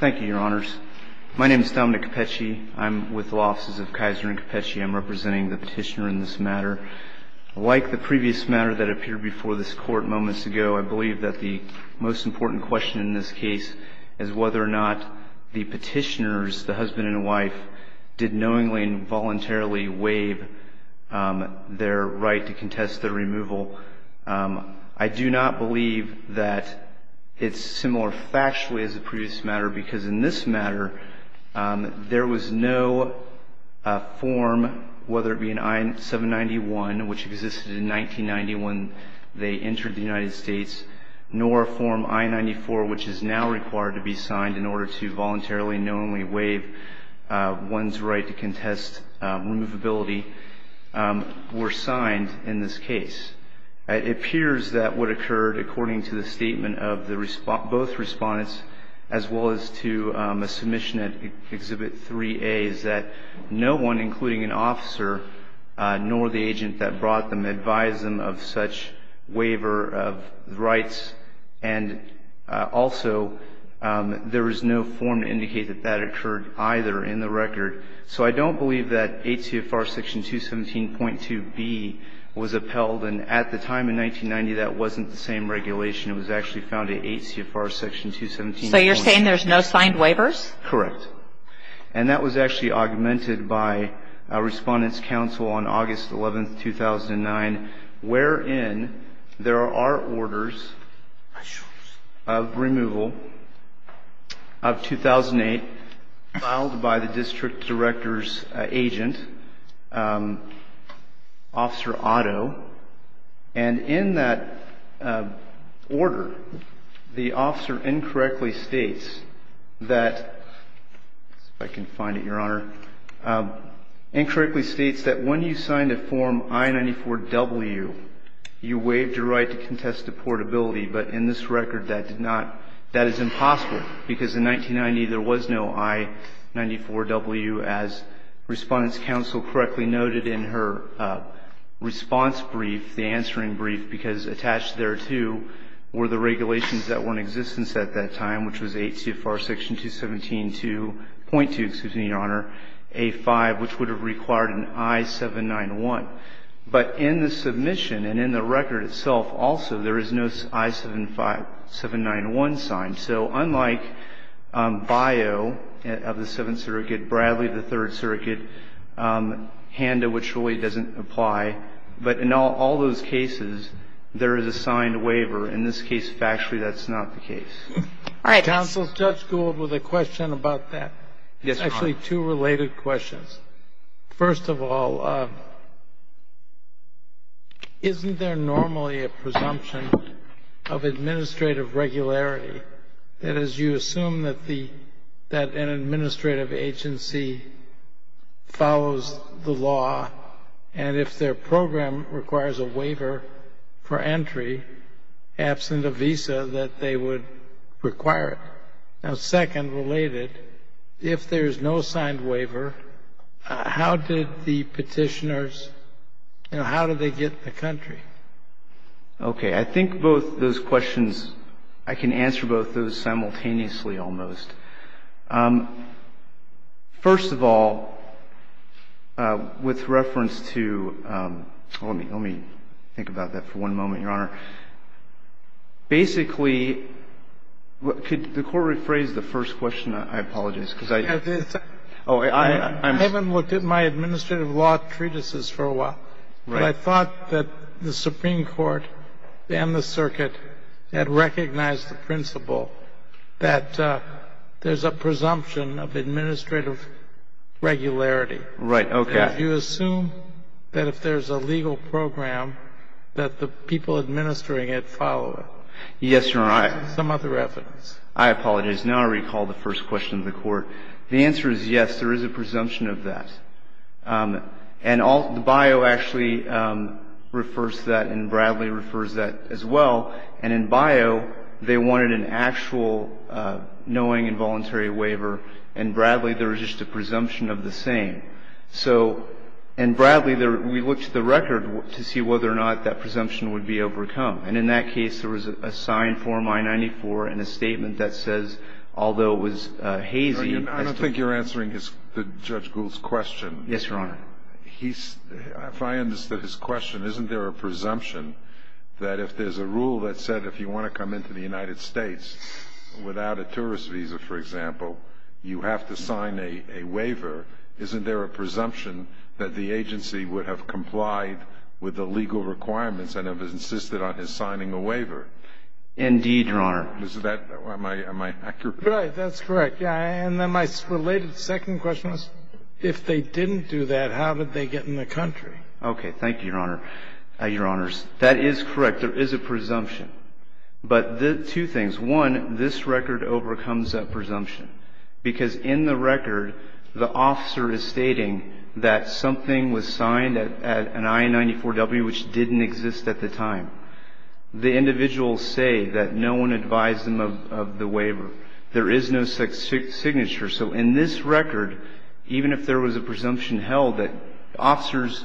Thank you, Your Honors. My name is Dominic Cappecci. I'm with the Law Offices of Kisner and Cappecci. I'm representing the petitioner in this matter. Like the previous matter that appeared before this Court moments ago, I believe that the most important question in this case is whether or not the petitioners, the husband and wife, did knowingly and voluntarily waive their right to contest their removal. I do not believe that it's similar factually as the previous matter because in this matter there was no form, whether it be an I-791, which existed in 1990 when they entered the United States, nor a form I-94, which is now required to be signed in order to voluntarily and It appears that what occurred, according to the statement of both respondents, as well as to a submission at Exhibit 3A, is that no one, including an officer nor the agent that brought them, advised them of such waiver of rights, and also there is no form to indicate that that occurred either in the record. So I don't believe that 8 CFR Section 217.2b was upheld, and at the time in 1990 that wasn't the same regulation. It was actually found in 8 CFR Section 217.2b. So you're saying there's no signed waivers? Correct. And that was actually augmented by Respondents' Council on August 11, 2009, wherein there are orders of removal of 2008 filed by the If I can find it, Your Honor. Incorrectly states that when you signed a form I-94w, you waived your right to contest deportability. But in this record that did not – that is impossible because in 1990 there was no I-94w, as Respondents' Council correctly noted in her response brief, the answering brief, because attached there too were the regulations that were in existence at that time, which was 8 CFR Section 217.2, excuse me, Your Honor, A-5, which would have required an I-791. But in the submission and in the record itself also there is no I-791 signed. So unlike BIO of the Seventh Circuit, Bradley of the Third Circuit, HANDA, which really doesn't apply, but in all those cases there is a signed waiver. In this case, factually, that's not the case. All right. Counsel, Judge Gould with a question about that. Yes, Your Honor. It's actually two related questions. First of all, isn't there normally a presumption of administrative regularity, that is, you assume that the – that an administrative agency follows the law, and if their program requires a waiver for entry absent a visa, that they would require it? Now, second related, if there is no signed waiver, how did the petitioners – you know, how did they get the country? Okay. I think both those questions – I can answer both those simultaneously almost. First of all, with reference to – let me think about that for one moment, Your Honor. Basically, could the Court rephrase the first question? I apologize, because I – I haven't looked at my administrative law treatises for a while. Right. But I thought that the Supreme Court and the circuit had recognized the principle that there's a presumption of administrative regularity. Right. Okay. If you assume that if there's a legal program, that the people administering it follow it. Yes, Your Honor. Some other evidence. I apologize. Now I recall the first question of the Court. The answer is yes, there is a presumption of that. And the bio actually refers to that, and Bradley refers to that as well. And in bio, they wanted an actual knowing involuntary waiver. In Bradley, there was just a presumption of the same. So in Bradley, we looked at the record to see whether or not that presumption would be overcome. And in that case, there was a signed form I-94 and a statement that says, although it was hazy – Yes, Your Honor. If I understood his question, isn't there a presumption that if there's a rule that said if you want to come into the United States without a tourist visa, for example, you have to sign a waiver, isn't there a presumption that the agency would have complied with the legal requirements and have insisted on his signing a waiver? Indeed, Your Honor. Am I accurate? Right. That's correct. Yeah. And then my related second question was, if they didn't do that, how did they get in the country? Okay. Thank you, Your Honor. Your Honors, that is correct. There is a presumption. But two things. One, this record overcomes that presumption because in the record, the officer is stating that something was signed at an I-94W which didn't exist at the time. The individuals say that no one advised them of the waiver. There is no signature. So in this record, even if there was a presumption held that officers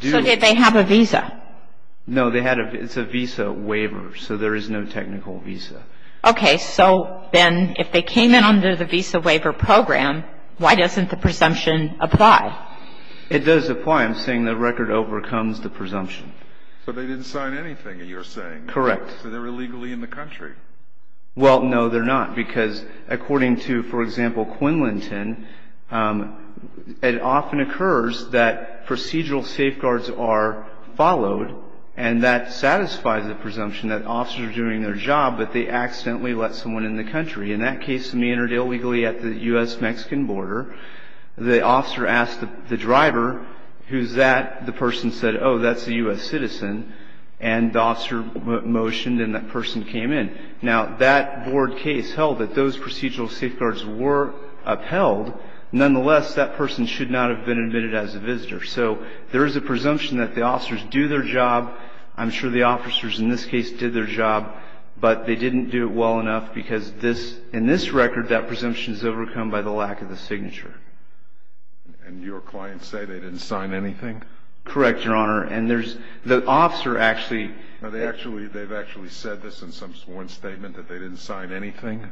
do So did they have a visa? No. It's a visa waiver. So there is no technical visa. Okay. So then if they came in under the visa waiver program, why doesn't the presumption apply? It does apply. I'm saying the record overcomes the presumption. So they didn't sign anything, you're saying. Correct. So they're illegally in the country. Well, no, they're not. Because according to, for example, Quinlinton, it often occurs that procedural safeguards are followed and that satisfies the presumption that officers are doing their job but they accidentally let someone in the country. In that case, somebody entered illegally at the U.S.-Mexican border. The officer asked the driver, who's that? The person said, oh, that's a U.S. citizen. And the officer motioned and that person came in. Now, that board case held that those procedural safeguards were upheld. Nonetheless, that person should not have been admitted as a visitor. So there is a presumption that the officers do their job. I'm sure the officers in this case did their job. But they didn't do it well enough because in this record, that presumption is overcome by the lack of the signature. And your clients say they didn't sign anything? Correct, Your Honor. And there's the officer actually. Now, they've actually said this in some sworn statement, that they didn't sign anything?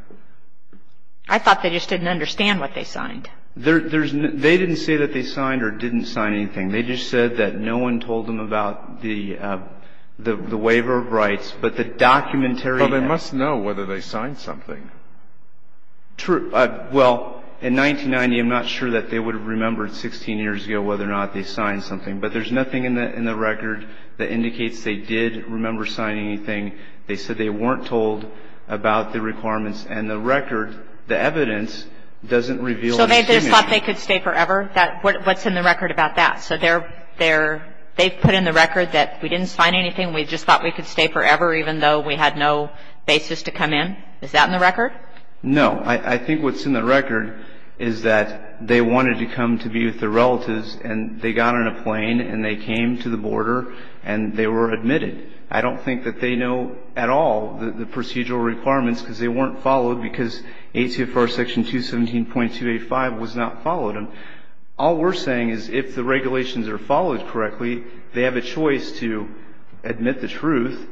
I thought they just didn't understand what they signed. They didn't say that they signed or didn't sign anything. They just said that no one told them about the waiver of rights. But the documentary. Well, they must know whether they signed something. True. Well, in 1990, I'm not sure that they would have remembered 16 years ago whether or not they signed something. But there's nothing in the record that indicates they did remember signing anything. They said they weren't told about the requirements. And the record, the evidence, doesn't reveal anything. So they just thought they could stay forever? What's in the record about that? So they've put in the record that we didn't sign anything, we just thought we could stay forever, even though we had no basis to come in? Is that in the record? No. I think what's in the record is that they wanted to come to be with their relatives, and they got on a plane and they came to the border and they were admitted. I don't think that they know at all the procedural requirements because they weren't followed because ACFR Section 217.285 was not followed. And all we're saying is if the regulations are followed correctly, they have a choice to admit the truth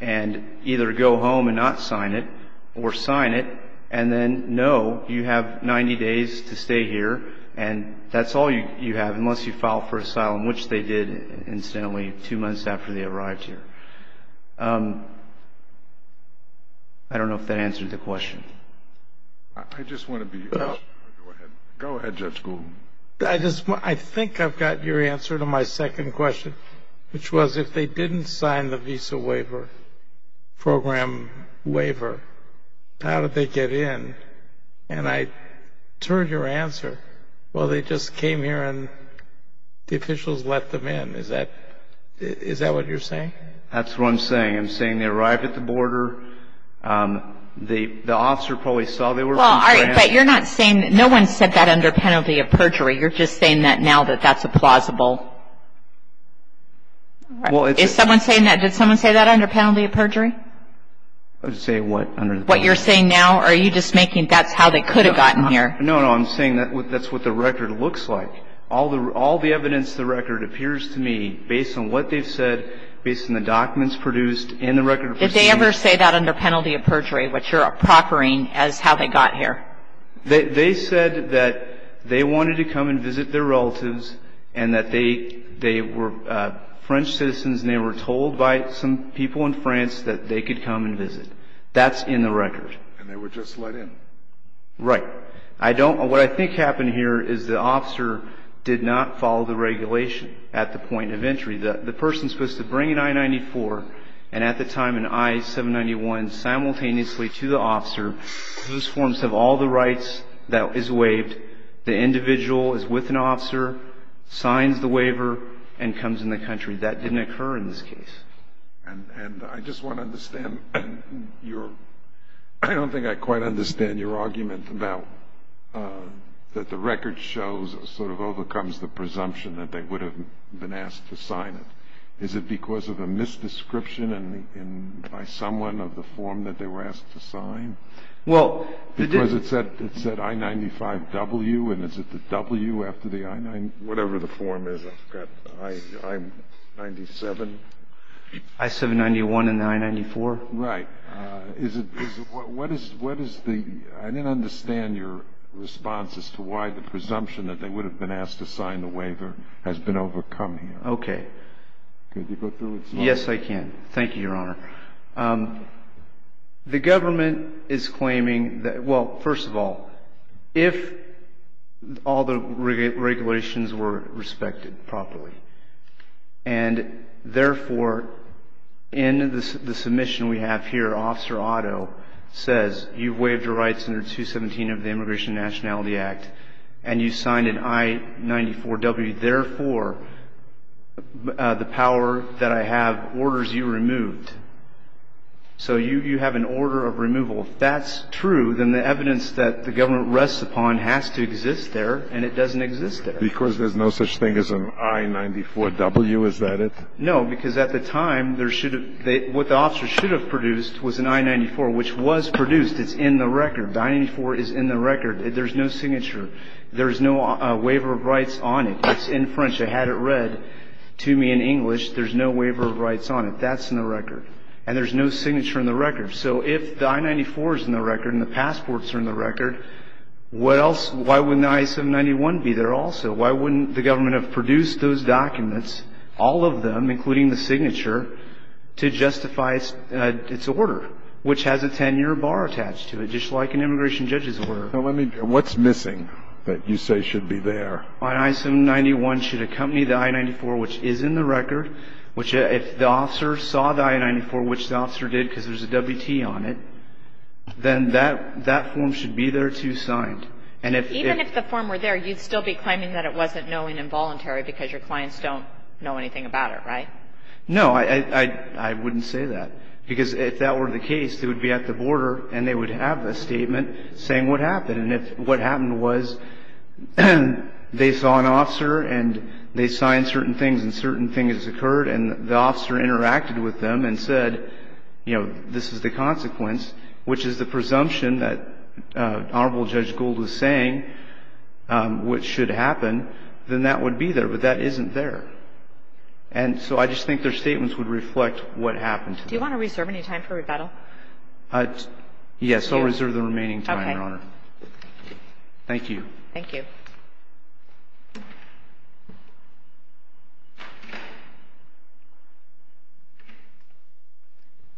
and either go home and not sign it or sign it, and then no, you have 90 days to stay here, and that's all you have unless you file for asylum, which they did, incidentally, two months after they arrived here. I don't know if that answers the question. I just want to be clear. Go ahead, Judge Goulden. I think I've got your answer to my second question, which was if they didn't sign the visa waiver, program waiver, how did they get in? And I turned your answer, well, they just came here and the officials let them in. Is that what you're saying? That's what I'm saying. I'm saying they arrived at the border. The officer probably saw they were being transferred. Well, all right, but you're not saying that. No one said that under penalty of perjury. You're just saying that now that that's plausible. Did someone say that under penalty of perjury? Say what under the penalty of perjury? What you're saying now, are you just making that's how they could have gotten here? No, no, I'm saying that's what the record looks like. All the evidence in the record appears to me, based on what they've said, based on the documents produced and the record of proceedings. Did they ever say that under penalty of perjury, what you're proffering as how they got here? They said that they wanted to come and visit their relatives and that they were French citizens and they were told by some people in France that they could come and visit. That's in the record. And they were just let in. Right. What I think happened here is the officer did not follow the regulation at the point of entry. The person is supposed to bring an I-94 and at the time an I-791 simultaneously to the officer. Those forms have all the rights that is waived. The individual is with an officer, signs the waiver, and comes in the country. That didn't occur in this case. And I just want to understand your – I don't think I quite understand your argument that the record shows, sort of overcomes the presumption that they would have been asked to sign it. Is it because of a misdescription by someone of the form that they were asked to sign? Because it said I-95W and is it the W after the I-9 – whatever the form is. I've got I-97. I-791 and the I-94. Right. What is the – I didn't understand your response as to why the presumption that they would have been asked to sign the waiver has been overcome here. Okay. Could you go through it? Yes, I can. Thank you, Your Honor. The government is claiming that – well, first of all, if all the regulations were respected properly, and therefore in the submission we have here, Officer Otto says you've waived your rights under 217 of the Immigration and Nationality Act and you signed an I-94W, therefore the power that I have orders you removed. So you have an order of removal. If that's true, then the evidence that the government rests upon has to exist there, and it doesn't exist there. Because there's no such thing as an I-94W, is that it? No, because at the time there should have – what the officers should have produced was an I-94, which was produced. It's in the record. The I-94 is in the record. There's no signature. There's no waiver of rights on it. It's in French. I had it read to me in English. There's no waiver of rights on it. That's in the record. And there's no signature in the record. So if the I-94 is in the record and the passports are in the record, why wouldn't the I-791 be there also? Why wouldn't the government have produced those documents, all of them, including the signature, to justify its order, which has a 10-year bar attached to it, just like an immigration judge's order? What's missing that you say should be there? The I-94 on I-791 should accompany the I-94, which is in the record. If the officer saw the I-94, which the officer did because there's a WT on it, then that form should be there, too, signed. Even if the form were there, you'd still be claiming that it wasn't knowing involuntary because your clients don't know anything about it, right? No. I wouldn't say that. Because if that were the case, they would be at the border and they would have a statement saying what happened. And if what happened was they saw an officer and they signed certain things and certain things occurred and the officer interacted with them and said, you know, this is the consequence, which is the presumption that Honorable Judge Gould was saying, what should happen, then that would be there. But that isn't there. And so I just think their statements would reflect what happened. Do you want to reserve any time for rebuttal? Yes, I'll reserve the remaining time, Your Honor. Thank you. Thank you.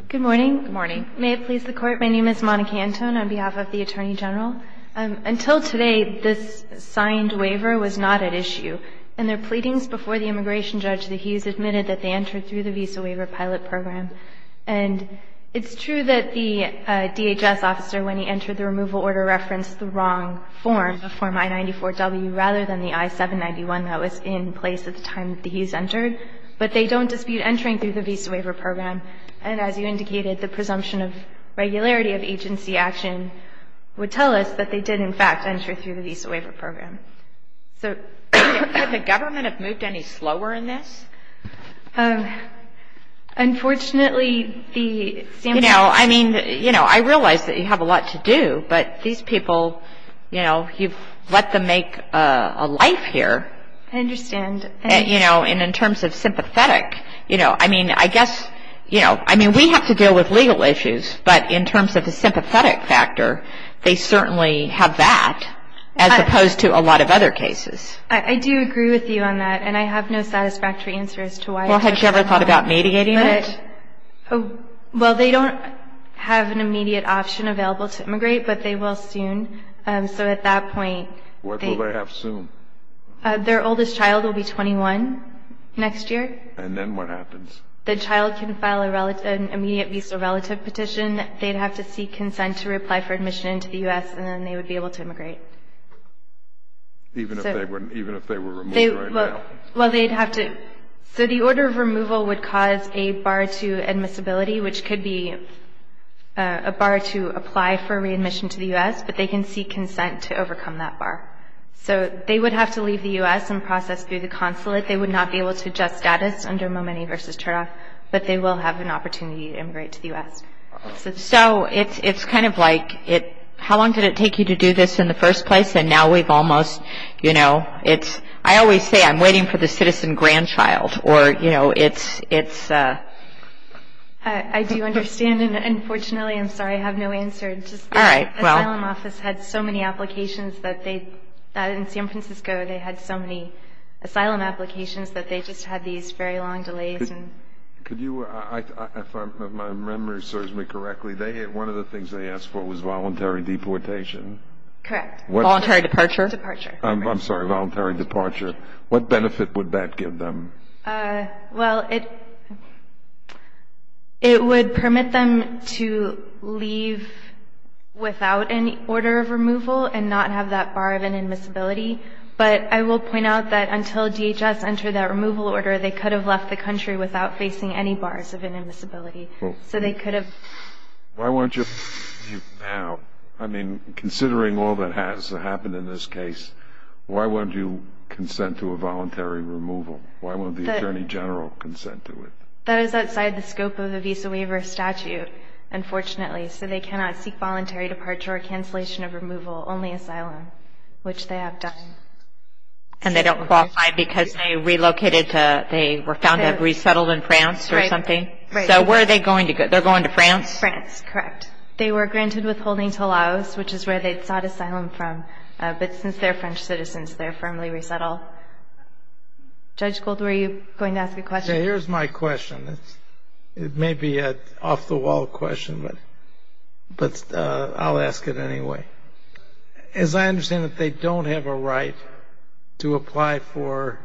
Good morning. Good morning. May it please the Court, my name is Monica Anton on behalf of the Attorney General. Until today, this signed waiver was not at issue. In their pleadings before the immigration judge, the Hughes admitted that they entered through the Visa Waiver Pilot Program. And it's true that the DHS officer, when he entered the removal order, referenced the wrong form, the form I-94W, rather than the I-791 that was in place at the time that the Hughes entered. But they don't dispute entering through the Visa Waiver Program. And as you indicated, the presumption of regularity of agency action would tell us that they did, in fact, enter through the Visa Waiver Program. So could the government have moved any slower in this? Unfortunately, the samples... You know, I mean, you know, I realize that you have a lot to do. But these people, you know, you've let them make a life here. I understand. And, you know, and in terms of sympathetic, you know, I mean, I guess, you know, I mean, we have to deal with legal issues. But in terms of the sympathetic factor, they certainly have that, as opposed to a lot of other cases. I do agree with you on that. And I have no satisfactory answer as to why... Well, had you ever thought about mediating it? Well, they don't have an immediate option available to immigrate, but they will soon. So at that point... What will they have soon? Their oldest child will be 21 next year. And then what happens? The child can file an immediate visa relative petition. They'd have to seek consent to reply for admission into the U.S., and then they would be able to immigrate. Even if they were removed right now? Well, they'd have to... So the order of removal would cause a bar to admissibility, which could be a bar to apply for readmission to the U.S., but they can seek consent to overcome that bar. So they would have to leave the U.S. and process through the consulate. They would not be able to adjust status under Momeni v. Chernoff, but they will have an opportunity to immigrate to the U.S. So it's kind of like, how long did it take you to do this in the first place, and now we've almost, you know, it's... I always say I'm waiting for the citizen grandchild, or, you know, it's... I do understand, and unfortunately, I'm sorry, I have no answer. Just the asylum office had so many applications that they... In San Francisco, they had so many asylum applications that they just had these very long delays. If my memory serves me correctly, one of the things they asked for was voluntary deportation? Correct. Voluntary departure? Departure. I'm sorry, voluntary departure. What benefit would that give them? Well, it would permit them to leave without any order of removal and not have that bar of inadmissibility, but I will point out that until DHS entered that removal order, they could have left the country without facing any bars of inadmissibility, so they could have... Why won't you... Now, I mean, considering all that has happened in this case, why won't you consent to a voluntary removal? Why won't the attorney general consent to it? That is outside the scope of the visa waiver statute, unfortunately, so they cannot seek voluntary departure or cancellation of removal, only asylum, which they have done. And they don't qualify because they relocated to... They were found to have resettled in France or something? Right. So where are they going to go? They're going to France? France, correct. They were granted withholding to Laos, which is where they sought asylum from, but since they're French citizens, they're firmly resettled. Judge Gould, were you going to ask a question? Here's my question. It may be an off-the-wall question, but I'll ask it anyway. As I understand it, they don't have a right to apply for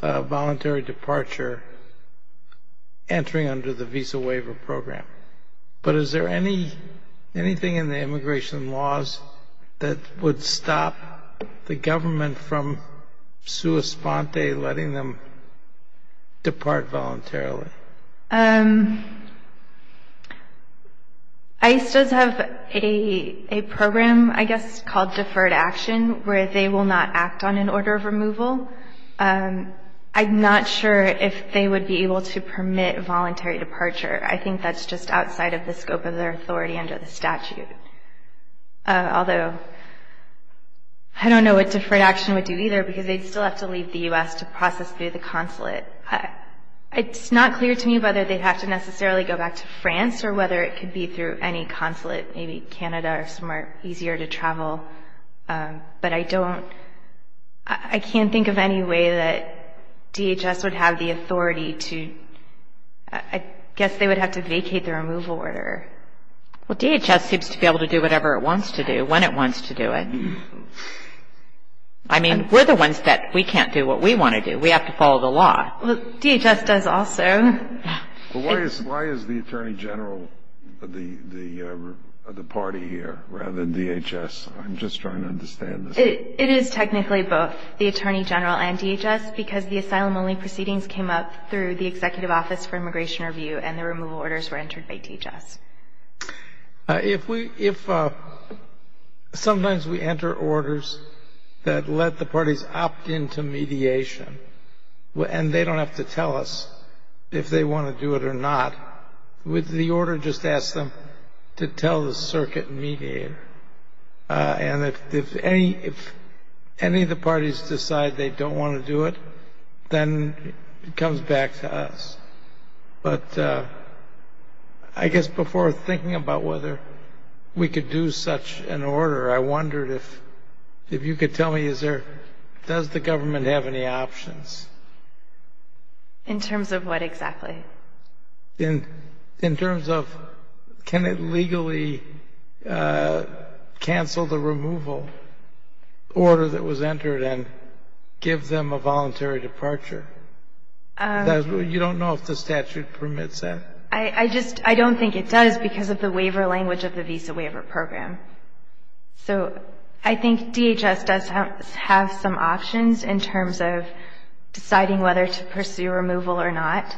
voluntary departure entering under the visa waiver program, but is there anything in the immigration laws that would stop the government from sua sponte, letting them depart voluntarily? ICE does have a program, I guess, called deferred action, where they will not act on an order of removal. I'm not sure if they would be able to permit voluntary departure. I think that's just outside of the scope of their authority under the statute, although I don't know what deferred action would do either because they'd still have to leave the U.S. to process through the consulate. It's not clear to me whether they'd have to necessarily go back to France or whether it could be through any consulate, maybe Canada or somewhere easier to travel, but I don't, I can't think of any way that DHS would have the authority to, I guess they would have to vacate the removal order. Well, DHS seems to be able to do whatever it wants to do when it wants to do it. I mean, we're the ones that we can't do what we want to do. We have to follow the law. Well, DHS does also. Well, why is the Attorney General the party here rather than DHS? I'm just trying to understand this. It is technically both, the Attorney General and DHS, because the asylum-only proceedings came up through the Executive Office for Immigration Review and the removal orders were entered by DHS. If we, if sometimes we enter orders that let the parties opt in to mediation and they don't have to tell us if they want to do it or not, would the order just ask them to tell the circuit mediator? And if any of the parties decide they don't want to do it, then it comes back to us. But I guess before thinking about whether we could do such an order, I wondered if you could tell me, does the government have any options? In terms of what exactly? In terms of can it legally cancel the removal order that was entered and give them a voluntary departure. You don't know if the statute permits that? I just, I don't think it does because of the waiver language of the Visa Waiver Program. So I think DHS does have some options in terms of deciding whether to pursue removal or not.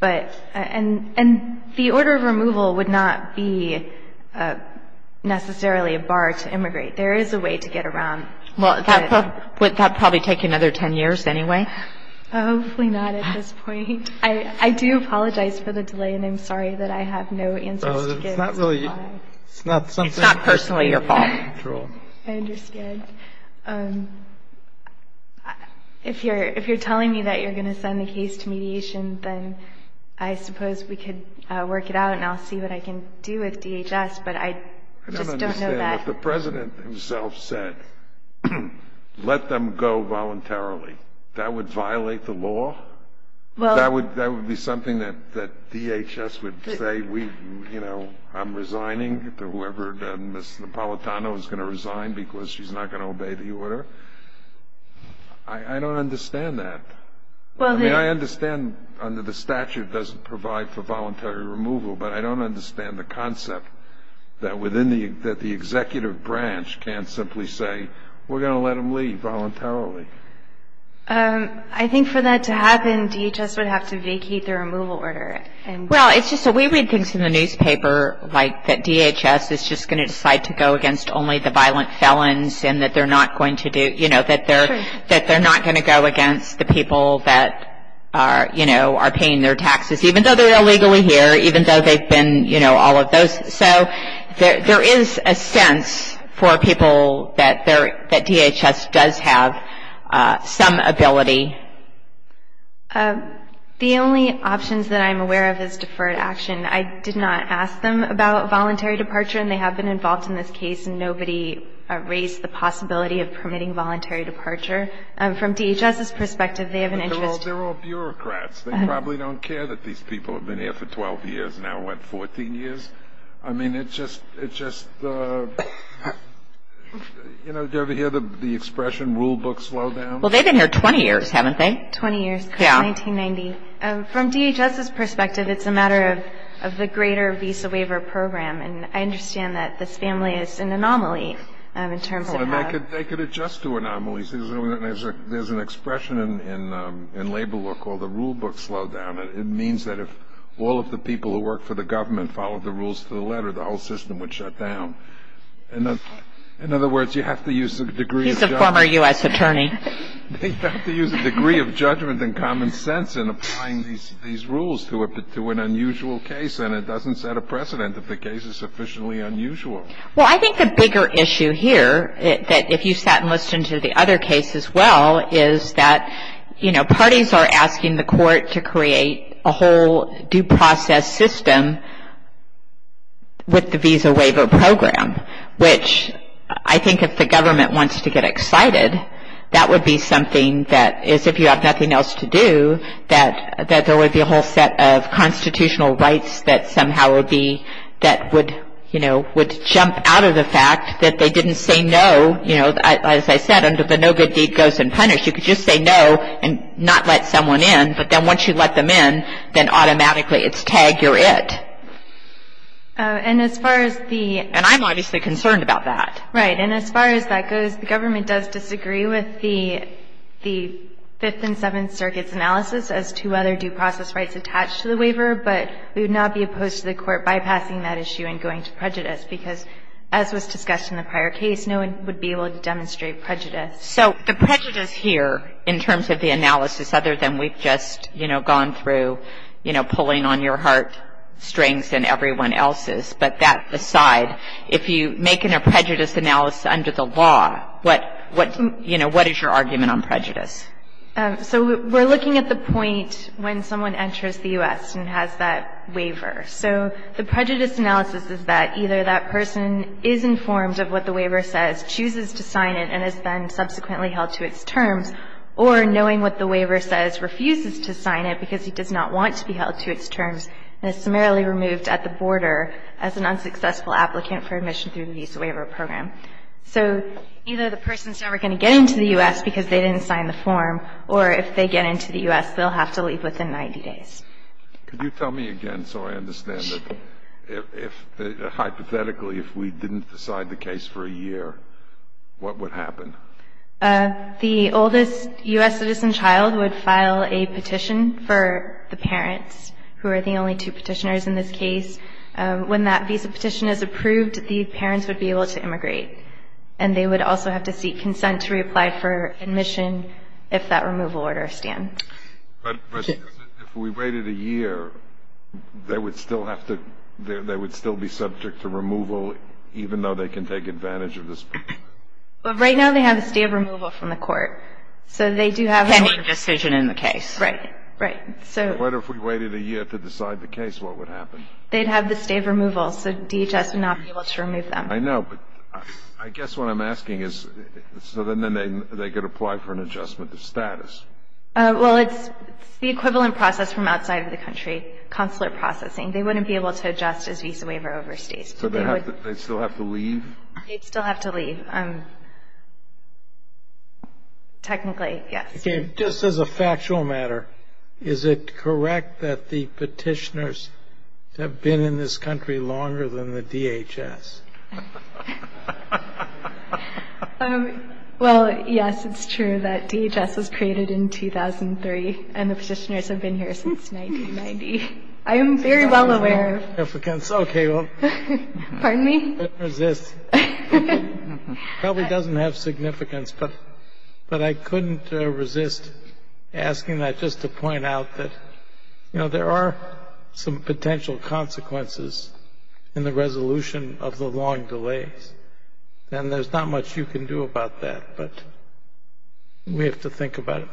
But, and the order of removal would not be necessarily a bar to immigrate. There is a way to get around. Well, that would probably take another 10 years anyway. Hopefully not at this point. I do apologize for the delay and I'm sorry that I have no answers to give. It's not really, it's not something. It's not personally your fault. I understand. If you're telling me that you're going to send the case to mediation, then I suppose we could work it out and I'll see what I can do with DHS. I don't understand what the President himself said. Let them go voluntarily. That would violate the law? That would be something that DHS would say, you know, I'm resigning to whoever, Ms. Napolitano is going to resign because she's not going to obey the order? I don't understand that. I mean, I understand under the statute it doesn't provide for voluntary removal, but I don't understand the concept that the executive branch can't simply say, we're going to let them leave voluntarily. I think for that to happen, DHS would have to vacate the removal order. Well, it's just that we read things in the newspaper like that DHS is just going to decide to go against only the violent felons and that they're not going to do, you know, that they're not going to go against the people that are, you know, are paying their taxes, even though they're illegally here, even though they've been, you know, all of those. So there is a sense for people that DHS does have some ability. The only options that I'm aware of is deferred action. I did not ask them about voluntary departure, and they have been involved in this case, and nobody raised the possibility of permitting voluntary departure. From DHS's perspective, they have an interest. They're all bureaucrats. They probably don't care that these people have been here for 12 years and now went 14 years. I mean, it's just, you know, do you ever hear the expression, rule books slow down? Well, they've been here 20 years, haven't they? 20 years. Yeah. Since 1990. From DHS's perspective, it's a matter of the greater visa waiver program, and I understand that this family is an anomaly in terms of that. They could adjust to anomalies. There's an expression in labor law called the rule book slow down. It means that if all of the people who work for the government followed the rules to the letter, the whole system would shut down. In other words, you have to use a degree of judgment. He's a former U.S. attorney. You have to use a degree of judgment and common sense in applying these rules to an unusual case, and it doesn't set a precedent if the case is sufficiently unusual. Well, I think the bigger issue here that if you sat and listened to the other case as well is that, you know, parties are asking the court to create a whole due process system with the visa waiver program, which I think if the government wants to get excited, that would be something that is, if you have nothing else to do, that there would be a whole set of constitutional rights that somehow would be, that would, you know, would jump out of the fact that they didn't say no. You know, as I said, under the no good deed goes unpunished, you could just say no and not let someone in, but then once you let them in, then automatically it's tag, you're it. And as far as the... And I'm obviously concerned about that. Right. And as far as that goes, the government does disagree with the Fifth and Seventh Circuit's analysis as to whether due process rights attach to the waiver, but we would not be opposed to the court bypassing that issue and going to prejudice because as was discussed in the prior case, no one would be able to demonstrate prejudice. So the prejudice here in terms of the analysis other than we've just, you know, gone through, you know, pulling on your heart strings and everyone else's, but that aside, if you make a prejudice analysis under the law, what, you know, what is your argument on prejudice? So we're looking at the point when someone enters the U.S. and has that waiver. So the prejudice analysis is that either that person is informed of what the waiver says, chooses to sign it, and is then subsequently held to its terms, or knowing what the waiver says, refuses to sign it because he does not want to be held to its terms and is summarily removed at the border as an unsuccessful applicant for admission through the Visa Waiver Program. So either the person's never going to get into the U.S. because they didn't sign the form, or if they get into the U.S., they'll have to leave within 90 days. Could you tell me again so I understand that if, hypothetically, if we didn't decide the case for a year, what would happen? The oldest U.S. citizen child would file a petition for the parents, who are the only two petitioners in this case. When that visa petition is approved, the parents would be able to immigrate, and they would also have to seek consent to reapply for admission if that removal order stands. But if we waited a year, they would still have to be subject to removal, even though they can take advantage of this? Well, right now they have this day of removal from the court, so they do have that. Short decision in the case. Right, right. So what if we waited a year to decide the case, what would happen? They'd have this day of removal, so DHS would not be able to remove them. I know, but I guess what I'm asking is, so then they could apply for an adjustment of status? Well, it's the equivalent process from outside of the country, consular processing. They wouldn't be able to adjust as visa waiver overstays. So they'd still have to leave? They'd still have to leave, technically, yes. Okay, just as a factual matter, is it correct that the petitioners have been in this country longer than the DHS? Well, yes, it's true that DHS was created in 2003, and the petitioners have been here since 1990. I am very well aware of that. Okay, well. Pardon me? I couldn't resist. It probably doesn't have significance, but I couldn't resist asking that just to point out that, you know, there are some potential consequences in the resolution of the long delays, and there's not much you can do about that, but we have to think about it.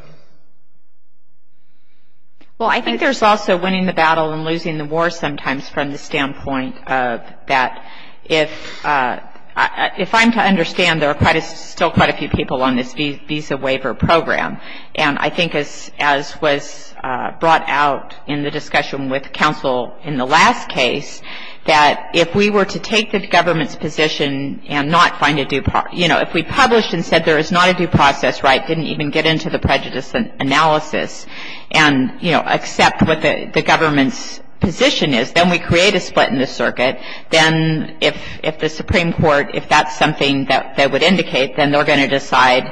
Well, I think there's also winning the battle and losing the war sometimes from the standpoint of that. If I'm to understand, there are still quite a few people on this visa waiver program, and I think as was brought out in the discussion with counsel in the last case, that if we were to take the government's position and not find a due process, you know, if we published and said there is not a due process, right, didn't even get into the prejudice analysis, and, you know, accept what the government's position is, then we create a split in the circuit. Then if the Supreme Court, if that's something that would indicate, then they're going to decide,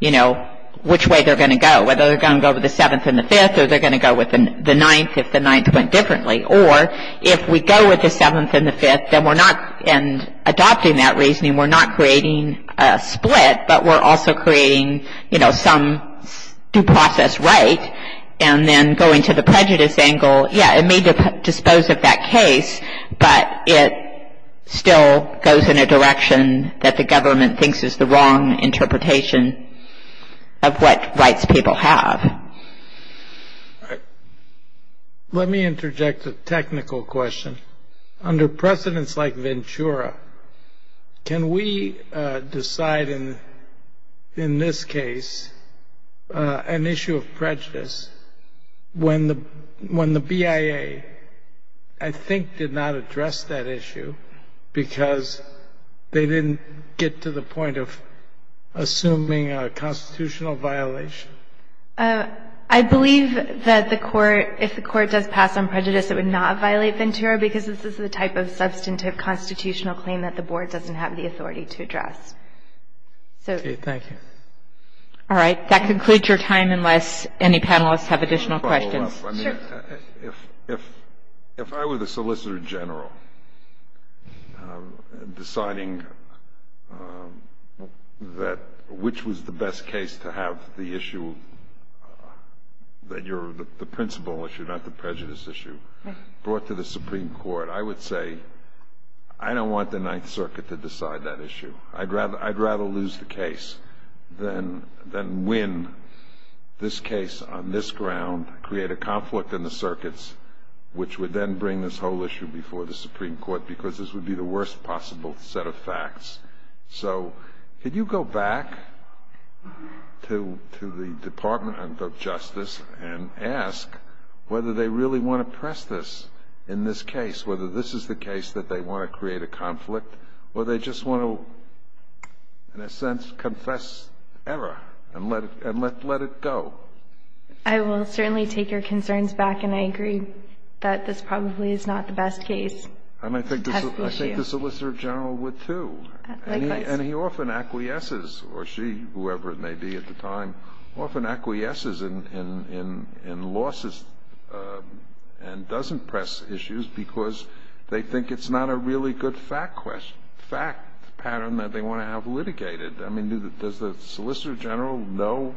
you know, which way they're going to go, whether they're going to go with the seventh and the fifth or they're going to go with the ninth if the ninth went differently. Or if we go with the seventh and the fifth, then we're not adopting that reasoning. We're not creating a split, but we're also creating, you know, some due process, right, and then going to the prejudice angle, yeah, it may dispose of that case, but it still goes in a direction that the government thinks is the wrong interpretation of what rights people have. Let me interject a technical question. Under precedents like Ventura, can we decide in this case an issue of prejudice when the BIA, I think, did not address that issue because they didn't get to the point of assuming a constitutional violation? I believe that the Court, if the Court does pass on prejudice, it would not violate Ventura because this is the type of substantive constitutional claim that the Board doesn't have the authority to address. Okay. Thank you. All right. That concludes your time unless any panelists have additional questions. If I were the Solicitor General deciding that which was the best case to have the issue, the principle issue, not the prejudice issue, brought to the Supreme Court, I would say I don't want the Ninth Circuit to decide that issue. I'd rather lose the case than win this case on this ground, create a conflict in the circuits, which would then bring this whole issue before the Supreme Court because this would be the worst possible set of facts. So could you go back to the Department of Justice and ask whether they really want to press this in this case, whether this is the case that they want to create a conflict, or they just want to, in a sense, confess error and let it go? I will certainly take your concerns back, and I agree that this probably is not the best case to have the issue. I think the Solicitor General would, too. And he often acquiesces, or she, whoever it may be at the time, often acquiesces in losses and doesn't press issues because they think it's not a really good fact pattern that they want to have litigated. I mean, does the Solicitor General know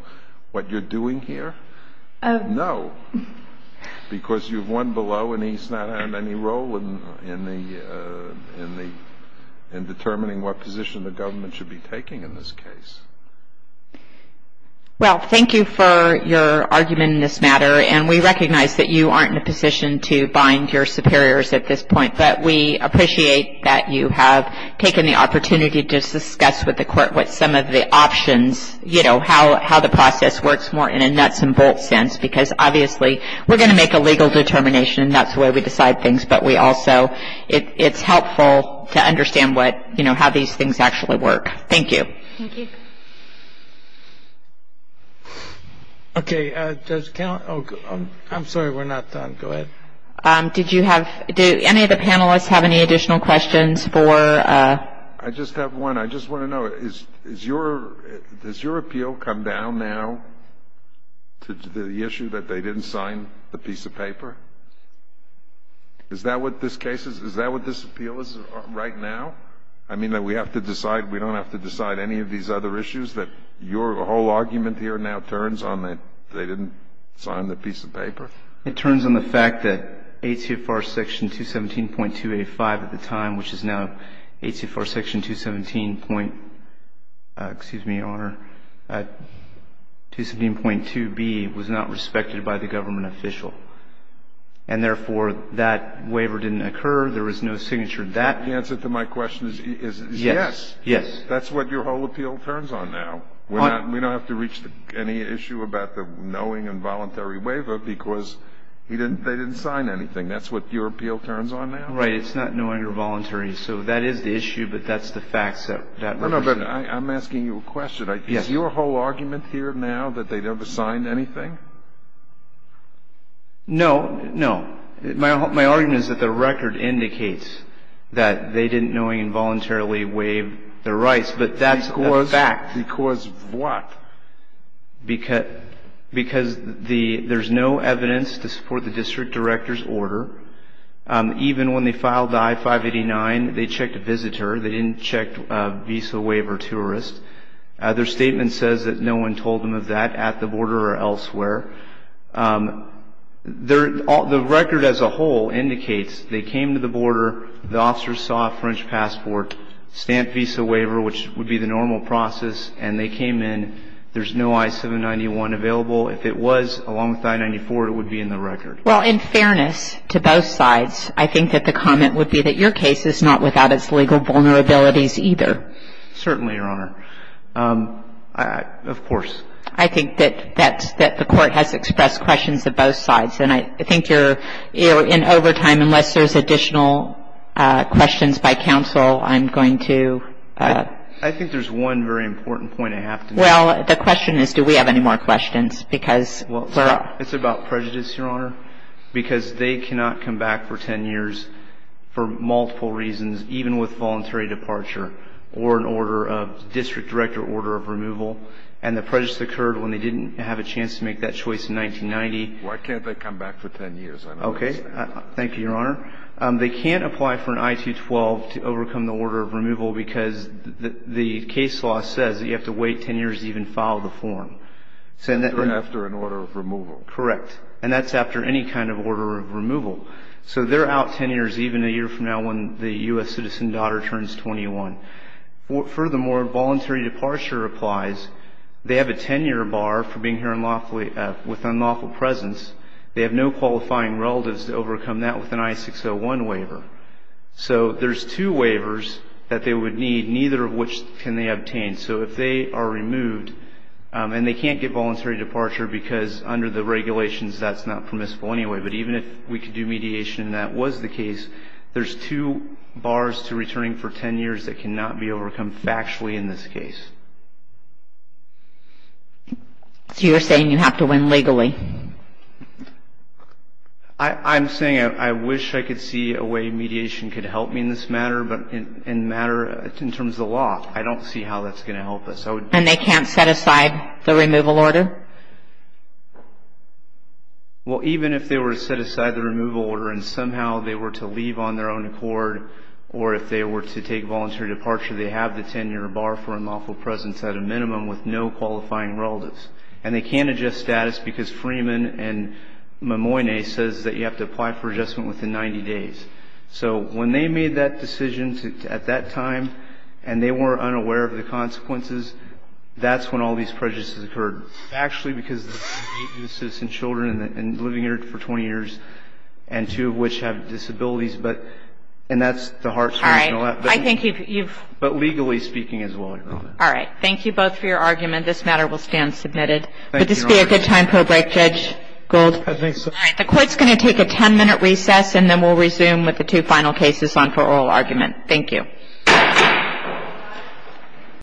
what you're doing here? No, because you've won below and he's not had any role in determining what position the government should be taking in this case. Well, thank you for your argument in this matter, and we recognize that you aren't in a position to bind your superiors at this point, but we appreciate that you have taken the opportunity to discuss with the Court what some of the options, you know, how the process works more in a nuts-and-bolts sense because, obviously, we're going to make a legal determination, and that's the way we decide things, but we also, it's helpful to understand what, you know, how these things actually work. Thank you. Thank you. Okay. Does count? Oh, I'm sorry, we're not done. Go ahead. Did you have, do any of the panelists have any additional questions for? I just have one. I just want to know, is your, does your appeal come down now to the issue that they didn't sign the piece of paper? Is that what this case is? Is that what this appeal is right now? I mean, we have to decide, we don't have to decide any of these other issues that your whole argument here now turns on that they didn't sign the piece of paper? It turns on the fact that ATFR section 217.285 at the time, which is now ATFR section 217. Excuse me, Your Honor. 217.2b was not respected by the government official, and therefore, that waiver didn't occur. There was no signature. The answer to my question is yes. Yes. That's what your whole appeal turns on now. We don't have to reach any issue about the knowing and voluntary waiver because they didn't sign anything. That's what your appeal turns on now? Right. It's not knowing or voluntary. So that is the issue, but that's the facts. No, no, but I'm asking you a question. Is your whole argument here now that they never signed anything? No, no. My argument is that the record indicates that they didn't knowingly and voluntarily waive their rights, but that's a fact. Because what? Because there's no evidence to support the district director's order. Even when they filed the I-589, they checked a visitor. They didn't check a visa waiver tourist. Their statement says that no one told them of that at the border or elsewhere. The record as a whole indicates they came to the border, the officers saw a French passport, stamped visa waiver, which would be the normal process, and they came in. There's no I-791 available. If it was, along with I-94, it would be in the record. Well, in fairness to both sides, I think that the comment would be that your case is not without its legal vulnerabilities either. Certainly, Your Honor. Of course. I think that the Court has expressed questions of both sides. And I think you're in overtime. Unless there's additional questions by counsel, I'm going to ---- I think there's one very important point I have to make. Well, the question is do we have any more questions because we're up. It's about prejudice, Your Honor, because they cannot come back for ten years for multiple reasons, even with voluntary departure or an order of district director order of removal. And the prejudice occurred when they didn't have a chance to make that choice in 1990. Why can't they come back for ten years? Thank you, Your Honor. They can't apply for an I-212 to overcome the order of removal because the case law says that you have to wait ten years to even file the form. After an order of removal. Correct. And that's after any kind of order of removal. So they're out ten years, even a year from now when the U.S. citizen daughter turns 21. Furthermore, voluntary departure applies. They have a ten-year bar for being here with unlawful presence. They have no qualifying relatives to overcome that with an I-601 waiver. So there's two waivers that they would need, neither of which can they obtain. So if they are removed, and they can't get voluntary departure because under the regulations that's not permissible anyway, but even if we could do mediation and that was the case, there's two bars to returning for ten years that cannot be overcome factually in this case. So you're saying you have to win legally? I'm saying I wish I could see a way mediation could help me in this matter, but in terms of the law, I don't see how that's going to help us. And they can't set aside the removal order? Well, even if they were to set aside the removal order and somehow they were to leave on their own accord, or if they were to take voluntary departure, they have the ten-year bar for unlawful presence at a minimum with no qualifying relatives. And they can't adjust status because Freeman and Mimoyne says that you have to apply for adjustment within 90 days. So when they made that decision at that time, and they were unaware of the consequences, that's when all these prejudices occurred. Actually, because of the citizens' children and living here for 20 years and two of which have disabilities, and that's the hard part. All right. I think you've... But legally speaking as well, Your Honor. All right. Thank you both for your argument. This matter will stand submitted. Thank you, Your Honor. Would this be a good time for a break, Judge Gold? I think so. All right. The Court's going to take a ten-minute recess, and then we'll resume with the two final cases on for oral argument. Thank you.